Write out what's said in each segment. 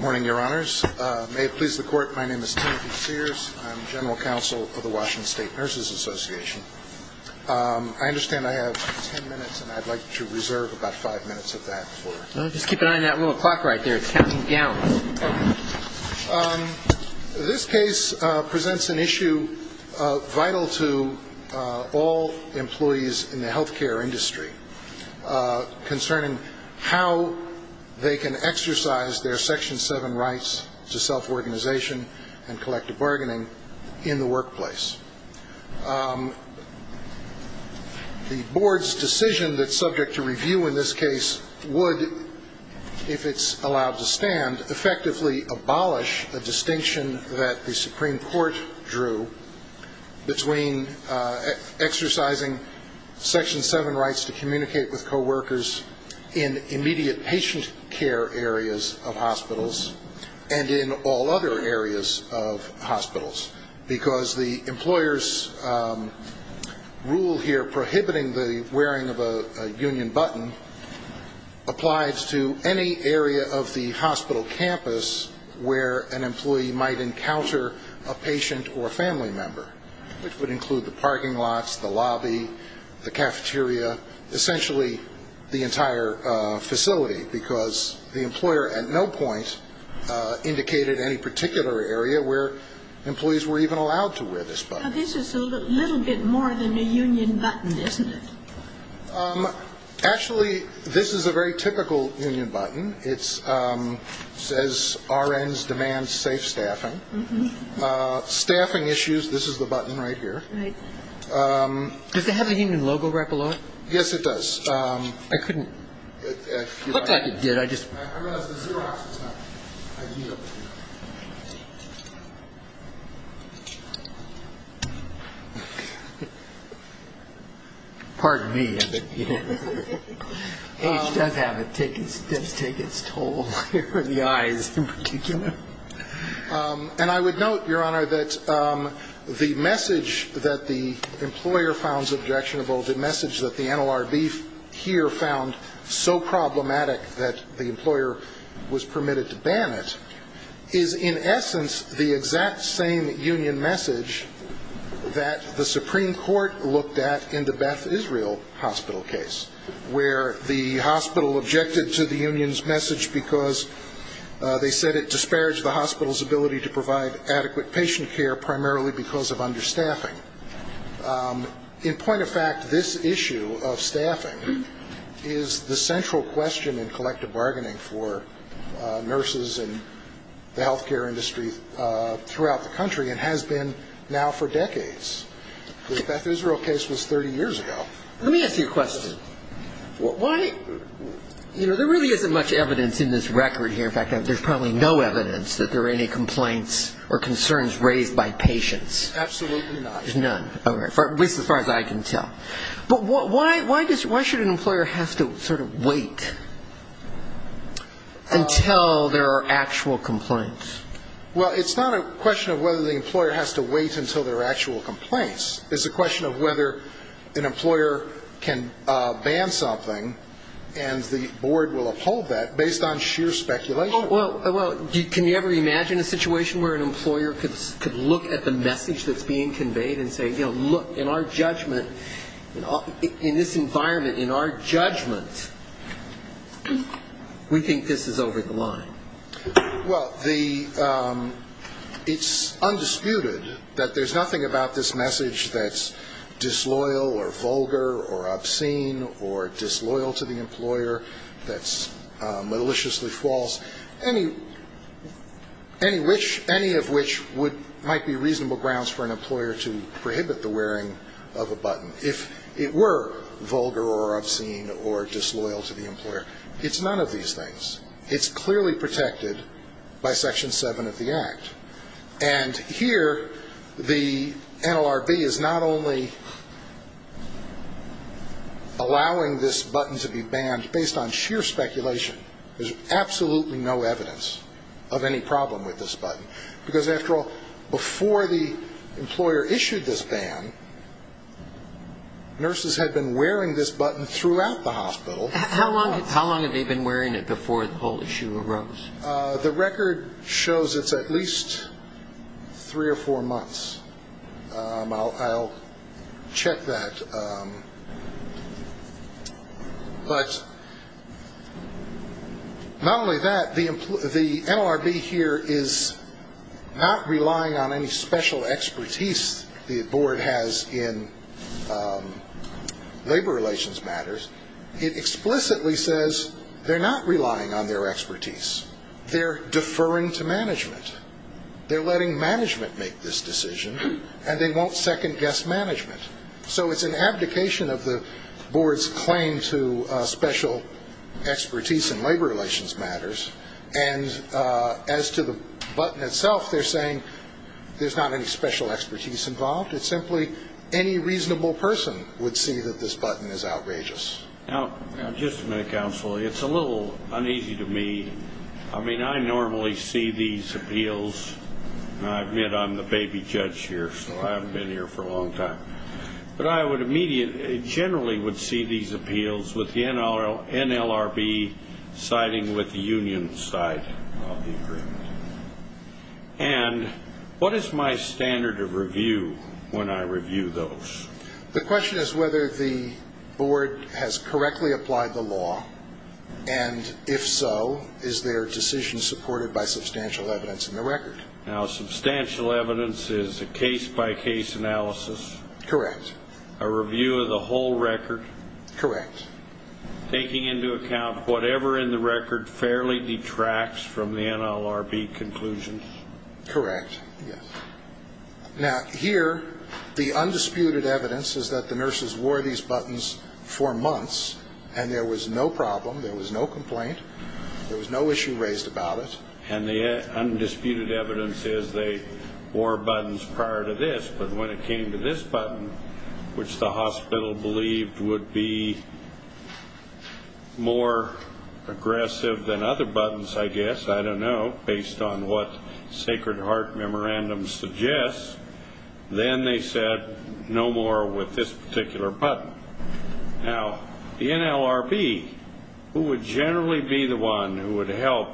Morning, Your Honors. May it please the Court, my name is Timothy Sears. I'm General Counsel for the Washington State Nurses Association. I understand I have ten minutes, and I'd like to reserve about five minutes of that. Just keep an eye on that little clock right there. It's counting gallons. This case presents an issue vital to all employees in the health care industry concerning how they can exercise their Section 7 rights to self-organization and collective bargaining in the workplace. The Board's decision that's subject to review in this case would, if it's allowed to stand, effectively abolish a distinction that the Supreme Court drew between exercising Section 7 rights to communicate with coworkers in immediate patient care areas of hospitals and in all other areas of hospitals, because the employer's rule here prohibiting the wearing of a union button applies to any area of the hospital campus where an employee might encounter a patient or a family member, which would include the parking lots, the lobby, the cafeteria, essentially the entire facility, because the employer at no point indicated any particular area where employees were even allowed to wear this button. Now, this is a little bit more than a union button, isn't it? Actually, this is a very typical union button. It says RNs demand safe staffing. Staffing issues, this is the button right here. Does it have a union logo right below it? Yes, it does. I couldn't – it looked like it did. I would note, Your Honor, that the message that the employer found objectionable, the message that the NLRB here found so problematic that it's not a good idea to have a union button. The employer was permitted to ban it, is in essence the exact same union message that the Supreme Court looked at in the Beth Israel hospital case, where the hospital objected to the union's message because they said it disparaged the hospital's ability to provide adequate patient care, primarily because of understaffing. In point of fact, this issue of staffing is the central question in collective bargaining for nurses and the healthcare industry throughout the country and has been now for decades. The Beth Israel case was 30 years ago. Let me ask you a question. Why – you know, there really isn't much evidence in this record here. In fact, there's probably no evidence that there were any complaints or concerns raised by patients. Absolutely not. There's none, at least as far as I can tell. But why should an employer have to sort of wait until there are actual complaints? Well, it's not a question of whether the employer has to wait until there are actual complaints. It's a question of whether an employer can ban something and the board will uphold that based on sheer speculation. Well, can you ever imagine a situation where an employer could look at the message that's being conveyed and say, you know, look, in our judgment, in this environment, in our judgment, we think this is over the line. Well, the – it's undisputed that there's nothing about this message that's disloyal or vulgar or obscene or disloyal to the employer that's maliciously false. Any which – any of which would – might be reasonable grounds for an employer to prohibit the wearing of a button if it were vulgar or obscene or disloyal to the employer. It's none of these things. It's clearly protected by Section 7 of the Act. And here, the NLRB is not only allowing this button to be banned based on sheer speculation. There's absolutely no evidence of any problem with this button. Because, after all, before the employer issued this ban, nurses had been wearing this button throughout the hospital. How long had they been wearing it before the whole issue arose? The record shows it's at least three or four months. I'll check that. But not only that, the NLRB here is not relying on any special expertise the board has in labor relations matters. It explicitly says they're not relying on their expertise. They're deferring to management. They're letting management make this decision, and they won't second-guess management. So it's an abdication of the board's claim to special expertise in labor relations matters. And as to the button itself, they're saying there's not any special expertise involved. It's simply any reasonable person would see that this button is outrageous. Now, just a minute, counsel. It's a little uneasy to me. I mean, I normally see these appeals, and I admit I'm the baby judge here, so I haven't been here for a long time. But I generally would see these appeals with the NLRB siding with the union side of the agreement. And what is my standard of review when I review those? The question is whether the board has correctly applied the law. And if so, is their decision supported by substantial evidence in the record? Now, substantial evidence is a case-by-case analysis. Correct. A review of the whole record. Correct. Taking into account whatever in the record fairly detracts from the NLRB conclusion. Correct, yes. Now, here, the undisputed evidence is that the nurses wore these buttons for months, and there was no problem. There was no complaint. There was no issue raised about it. And the undisputed evidence is they wore buttons prior to this, but when it came to this button, which the hospital believed would be more aggressive than other buttons, I guess, I don't know, based on what Sacred Heart Memorandum suggests, then they said no more with this particular button. Now, the NLRB, who would generally be the one who would help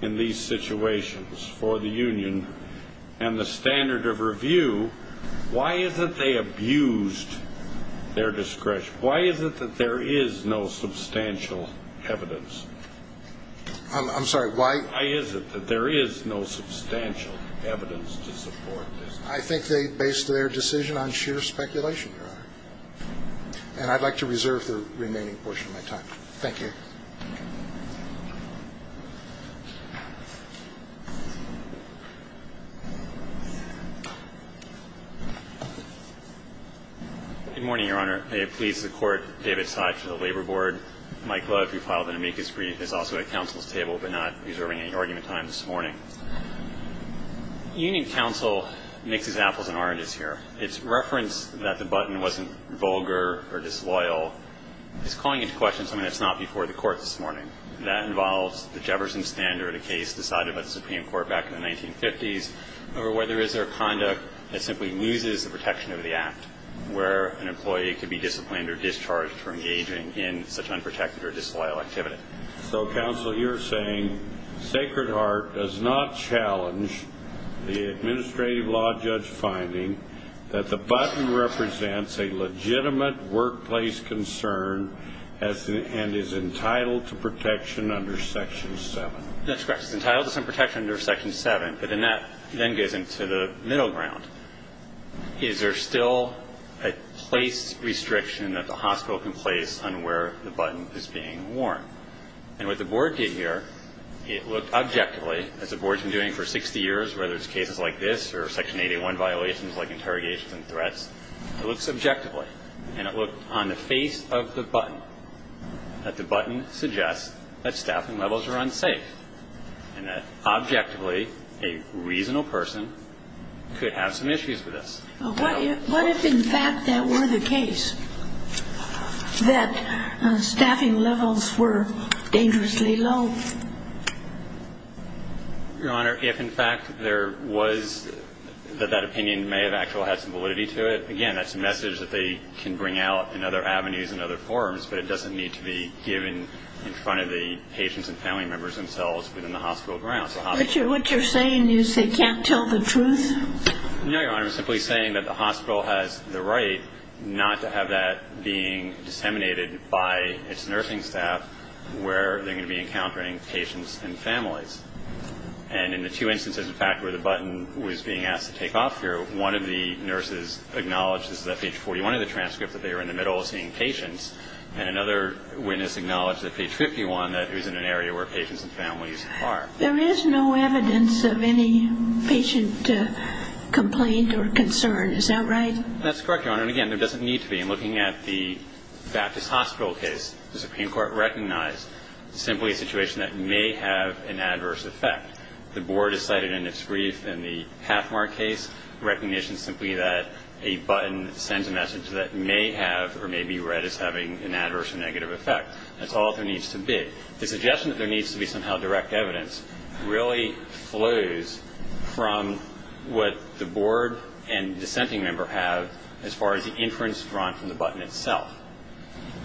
in these situations for the union, and the standard of review, why is it they abused their discretion? Why is it that there is no substantial evidence? I'm sorry, why? Why is it that there is no substantial evidence to support this? I think they based their decision on sheer speculation, Your Honor. And I'd like to reserve the remaining portion of my time. Thank you. Good morning, Your Honor. May it please the Court, David Seif for the Labor Board. Mike Love, who filed an amicus brief, is also at counsel's table, but not reserving any argument time this morning. Union counsel mixes apples and oranges here. Its reference that the button wasn't vulgar or disloyal is calling into question something that's not before the Court this morning. That involves the Jefferson standard, a case decided by the Supreme Court back in the 1950s, over whether is there a conduct that simply loses the protection of the act, where an employee could be disciplined or discharged for engaging in such unprotected or disloyal activity. So, counsel, you're saying Sacred Heart does not challenge the administrative law judge finding that the button represents a legitimate workplace concern and is entitled to protection under Section 7? That's correct. It's entitled to some protection under Section 7, but then that then goes into the middle ground. Is there still a place restriction that the hospital can place on where the button is being worn? And what the Board did here, it looked objectively, as the Board's been doing for 60 years, whether it's cases like this or Section 881 violations like interrogations and threats, it looks objectively, and it looked on the face of the button, that the button suggests that staffing levels are unsafe and that, objectively, a reasonable person could have some issues with this. What if, in fact, that were the case, that staffing levels were dangerously low? Your Honor, if, in fact, there was, that that opinion may have actually had some validity to it, again, that's a message that they can bring out in other avenues and other forums, but it doesn't need to be given in front of the patients and family members themselves within the hospital grounds. What you're saying is they can't tell the truth? No, Your Honor. I'm simply saying that the hospital has the right not to have that being disseminated by its nursing staff where they're going to be encountering patients and families. And in the two instances, in fact, where the button was being asked to take off here, one of the nurses acknowledges that page 41 of the transcript that they were in the middle of seeing patients and another witness acknowledged that page 51 that it was in an area where patients and families are. There is no evidence of any patient complaint or concern. Is that right? That's correct, Your Honor. And, again, there doesn't need to be. In looking at the Baptist Hospital case, the Supreme Court recognized simply a situation that may have an adverse effect. The board has cited in its brief in the Pathmark case recognition simply that a button sends a message that may have or may be read as having an adverse or negative effect. That's all there needs to be. The suggestion that there needs to be somehow direct evidence really flows from what the board and dissenting member have as far as the inference drawn from the button itself.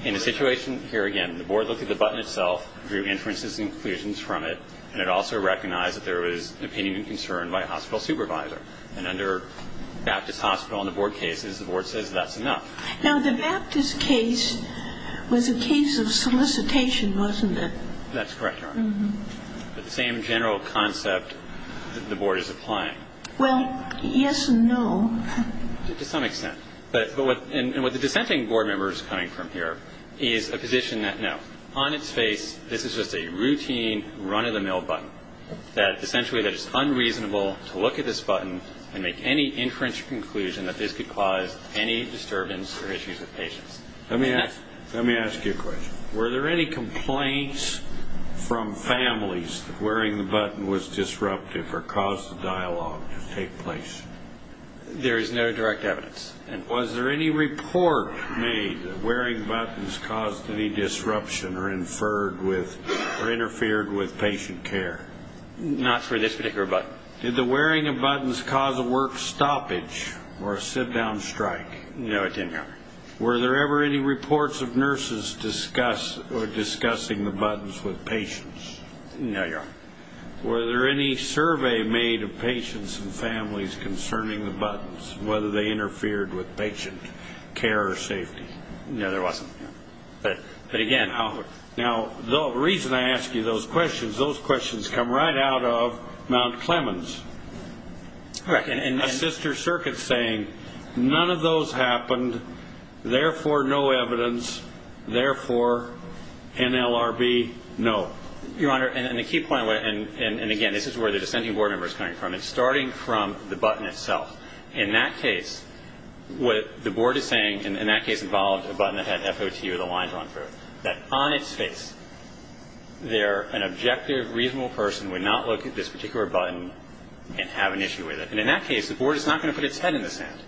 In the situation here, again, the board looked at the button itself, drew inferences and conclusions from it, and it also recognized that there was opinion and concern by a hospital supervisor. And under Baptist Hospital and the board cases, the board says that's enough. Now, the Baptist case was a case of solicitation, wasn't it? That's correct, Your Honor. But the same general concept the board is applying. Well, yes and no. To some extent. And what the dissenting board member is coming from here is a position that, no, on its face, this is just a routine run-of-the-mill button, that essentially that it's unreasonable to look at this button and make any inference or conclusion that this could cause any disturbance or issues with patients. Let me ask you a question. Were there any complaints from families that wearing the button was disruptive or caused the dialogue to take place? There is no direct evidence. And was there any report made that wearing buttons caused any disruption or interfered with patient care? Not for this particular button. Did the wearing of buttons cause a work stoppage or a sit-down strike? No, it didn't, Your Honor. Were there ever any reports of nurses discussing the buttons with patients? No, Your Honor. Were there any survey made of patients and families concerning the buttons, whether they interfered with patient care or safety? No, there wasn't. But, again, how? Now, the reason I ask you those questions, those questions come right out of Mount Clemens. All right. A sister circuit saying none of those happened, therefore no evidence, therefore NLRB no. Your Honor, and the key point, and, again, this is where the dissenting board member is coming from. It's starting from the button itself. In that case, what the board is saying, and in that case it involved a button that had FOT or the lines run through it, that on its face there an objective, reasonable person would not look at this particular button and have an issue with it. And in that case, the board is not going to put its head in the sand.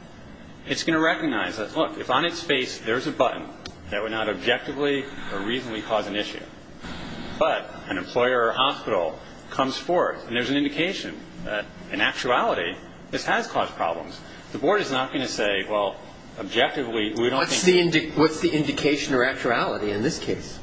It's going to recognize that, look, if on its face there's a button that would not objectively or reasonably cause an issue, but an employer or hospital comes forth, and there's an indication that in actuality this has caused problems, the board is not going to say, well, objectively we don't think. What's the indication or actuality in this case?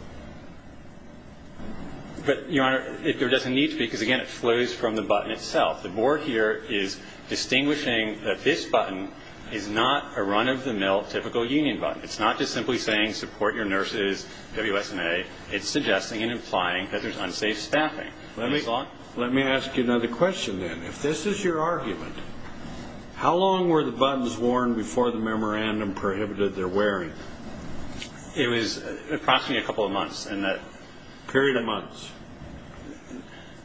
But, Your Honor, there doesn't need to be, because, again, it flows from the button itself. The board here is distinguishing that this button is not a run-of-the-mill typical union button. It's not just simply saying support your nurses, WSMA. It's suggesting and implying that there's unsafe staffing. Let me ask you another question then. If this is your argument, how long were the buttons worn before the memorandum prohibited their wearing? It was approximately a couple of months in that period of months.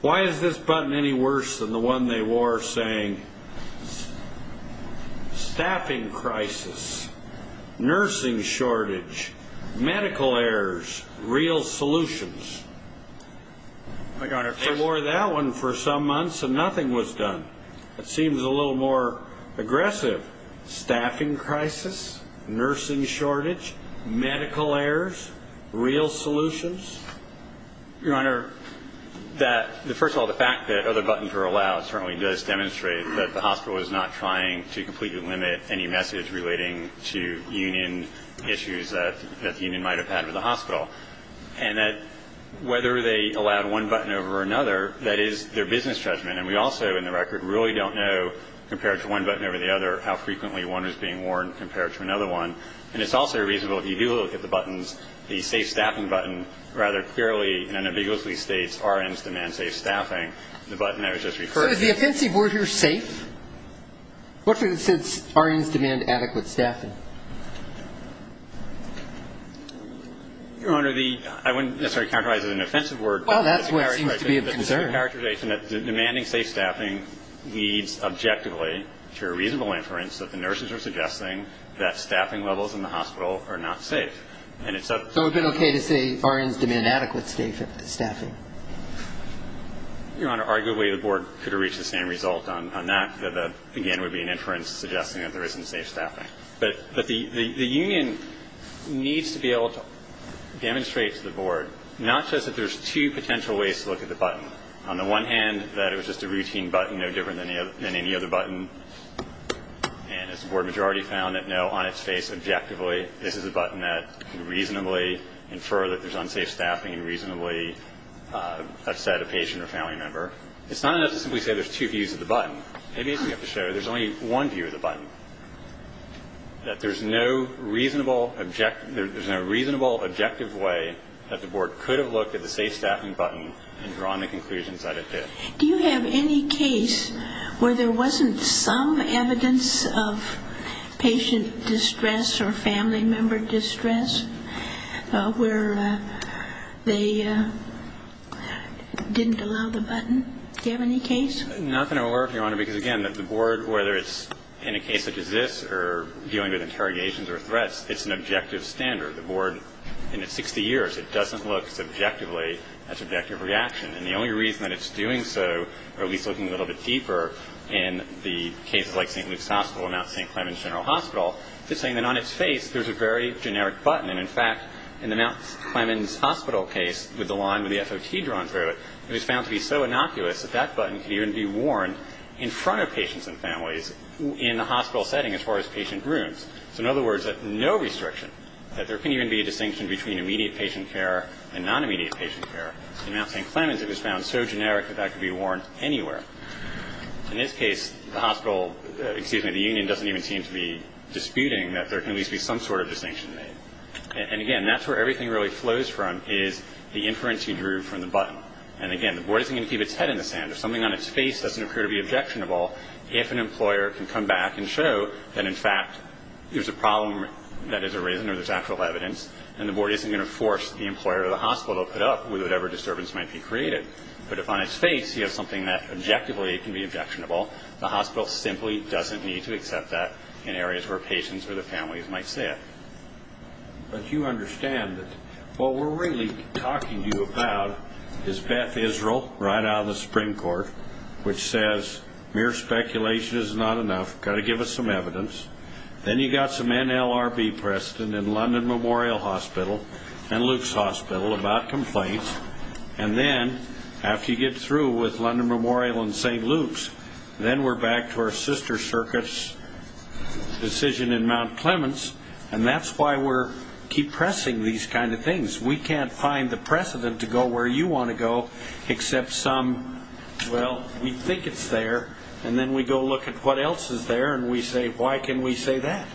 Why is this button any worse than the one they wore saying, staffing crisis, nursing shortage, medical errors, real solutions? They wore that one for some months and nothing was done. It seems a little more aggressive. Staffing crisis, nursing shortage, medical errors, real solutions? Your Honor, first of all, the fact that other buttons were allowed certainly does demonstrate that the hospital is not trying to completely limit any message relating to union issues that the union might have had with the hospital. And that whether they allowed one button over another, that is their business judgment. And we also, in the record, really don't know, compared to one button over the other, how frequently one was being worn compared to another one. And it's also reasonable, if you do look at the buttons, the safe staffing button rather clearly and ambiguously states RNs demand safe staffing, the button that was just referred to. So is the offensive word here safe? What if it said RNs demand adequate staffing? Your Honor, I wouldn't necessarily characterize it as an offensive word. Well, that's what seems to be of concern. It's a characterization that demanding safe staffing leads objectively to a reasonable inference that the nurses are suggesting that staffing levels in the hospital are not safe. So it would be okay to say RNs demand adequate staffing? Your Honor, arguably the Board could have reached the same result on that. Again, it would be an inference suggesting that there isn't safe staffing. But the union needs to be able to demonstrate to the Board, not just that there's two potential ways to look at the button. On the one hand, that it was just a routine button, no different than any other button. And as the Board majority found it, no, on its face, objectively, this is a button that could reasonably infer that there's unsafe staffing and reasonably upset a patient or family member. It's not enough to simply say there's two views of the button. Maybe we have to show there's only one view of the button, that there's no reasonable objective way that the Board could have looked at the safe staffing button and drawn the conclusions that it did. Do you have any case where there wasn't some evidence of patient distress or family member distress? Where they didn't allow the button? Do you have any case? Not that I'm aware of, Your Honor, because, again, the Board, whether it's in a case such as this or dealing with interrogations or threats, it's an objective standard. The Board, in its 60 years, it doesn't look subjectively at subjective reaction. And the only reason that it's doing so, or at least looking a little bit deeper in the cases like St. Luke's Hospital and now St. Clement's General Hospital, is saying that on its face there's a very generic button. And, in fact, in the Mount Clemens Hospital case with the line with the FOT drawn through it, it was found to be so innocuous that that button could even be worn in front of patients and families in a hospital setting as far as patient rooms. So, in other words, no restriction, that there can even be a distinction between immediate patient care and non-immediate patient care. In Mount St. Clemens, it was found so generic that that could be worn anywhere. In this case, the hospital, excuse me, the union doesn't even seem to be disputing that there can at least be some sort of distinction made. And, again, that's where everything really flows from is the inference you drew from the button. And, again, the Board isn't going to keep its head in the sand. If something on its face doesn't appear to be objectionable, if an employer can come back and show that, in fact, there's a problem that has arisen or there's actual evidence, then the Board isn't going to force the employer or the hospital to put up with whatever disturbance might be created. But if on its face you have something that objectively can be objectionable, the hospital simply doesn't need to accept that in areas where patients or the families might say it. But you understand that what we're really talking to you about is Beth Israel, right out of the Supreme Court, which says mere speculation is not enough. Got to give us some evidence. Then you've got some NLRB precedent in London Memorial Hospital and Luke's Hospital about complaints. And then, after you get through with London Memorial and St. Luke's, then we're back to our sister circuit's decision in Mount Clemens, and that's why we keep pressing these kind of things. We can't find the precedent to go where you want to go except some, well, we think it's there, and then we go look at what else is there, and we say, why can we say that?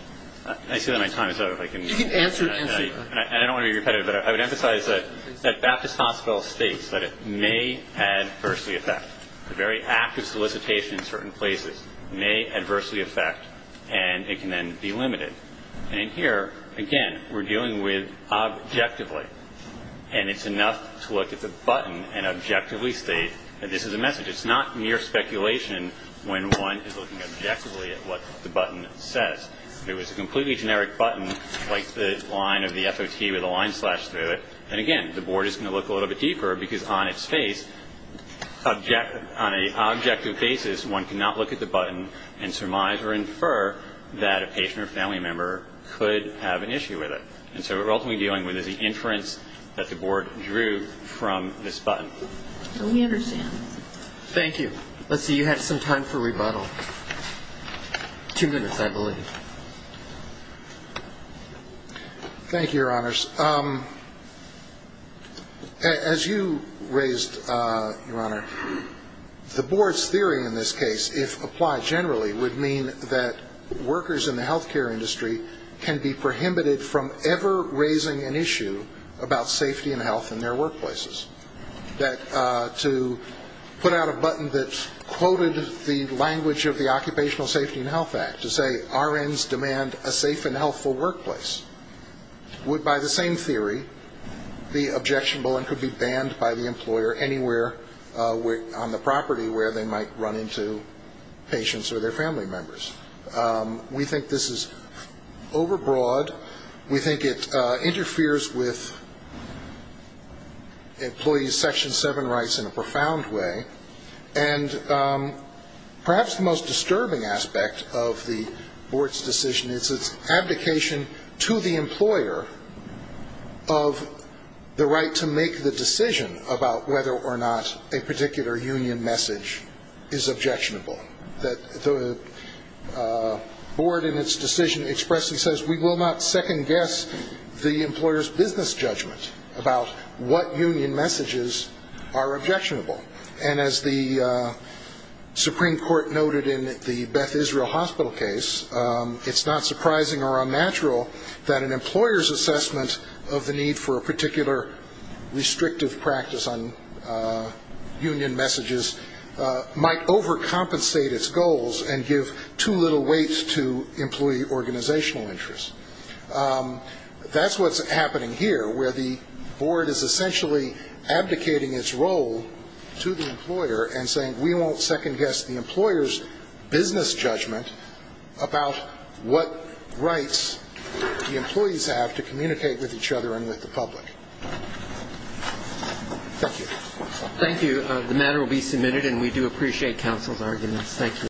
I see that my time is up. You can answer. I don't want to be repetitive, but I would emphasize that Baptist Hospital states that it may adversely affect. A very active solicitation in certain places may adversely affect, and it can then be limited. And here, again, we're dealing with objectively, and it's enough to look at the button and objectively state that this is a message. It's not mere speculation when one is looking objectively at what the button says. If it was a completely generic button, like the line of the FOT with a line slashed through it, then, again, the board is going to look a little bit deeper, because on its face, on an objective basis, one cannot look at the button and surmise or infer that a patient or family member could have an issue with it. And so what we're ultimately dealing with is the inference that the board drew from this button. We understand. Thank you. Let's see. You have some time for rebuttal. Two minutes, I believe. Thank you, Your Honors. As you raised, Your Honor, the board's theory in this case, if applied generally, would mean that workers in the health care industry can be prohibited from ever raising an issue about safety and health in their workplaces. That to put out a button that quoted the language of the Occupational Safety and Health Act to say, RNs demand a safe and healthful workplace, would, by the same theory, be objectionable and could be banned by the employer anywhere on the property where they might run into patients or their family members. We think this is overbroad. We think it interferes with employees' Section 7 rights in a profound way. And perhaps the most disturbing aspect of the board's decision is its abdication to the employer of the right to make the decision about whether or not a particular union message is objectionable. The board in its decision expressly says, we will not second-guess the employer's business judgment about what union messages are objectionable. And as the Supreme Court noted in the Beth Israel Hospital case, it's not surprising or unnatural that an employer's assessment of the need for a particular restrictive practice on union messages might overcompensate its goals and give too little weight to employee organizational interests. That's what's happening here, where the board is essentially abdicating its role to the employer and saying we won't second-guess the employer's business judgment about what rights the employees have to communicate with each other and with the public. Thank you. Thank you. The matter will be submitted, and we do appreciate counsel's arguments. Thank you.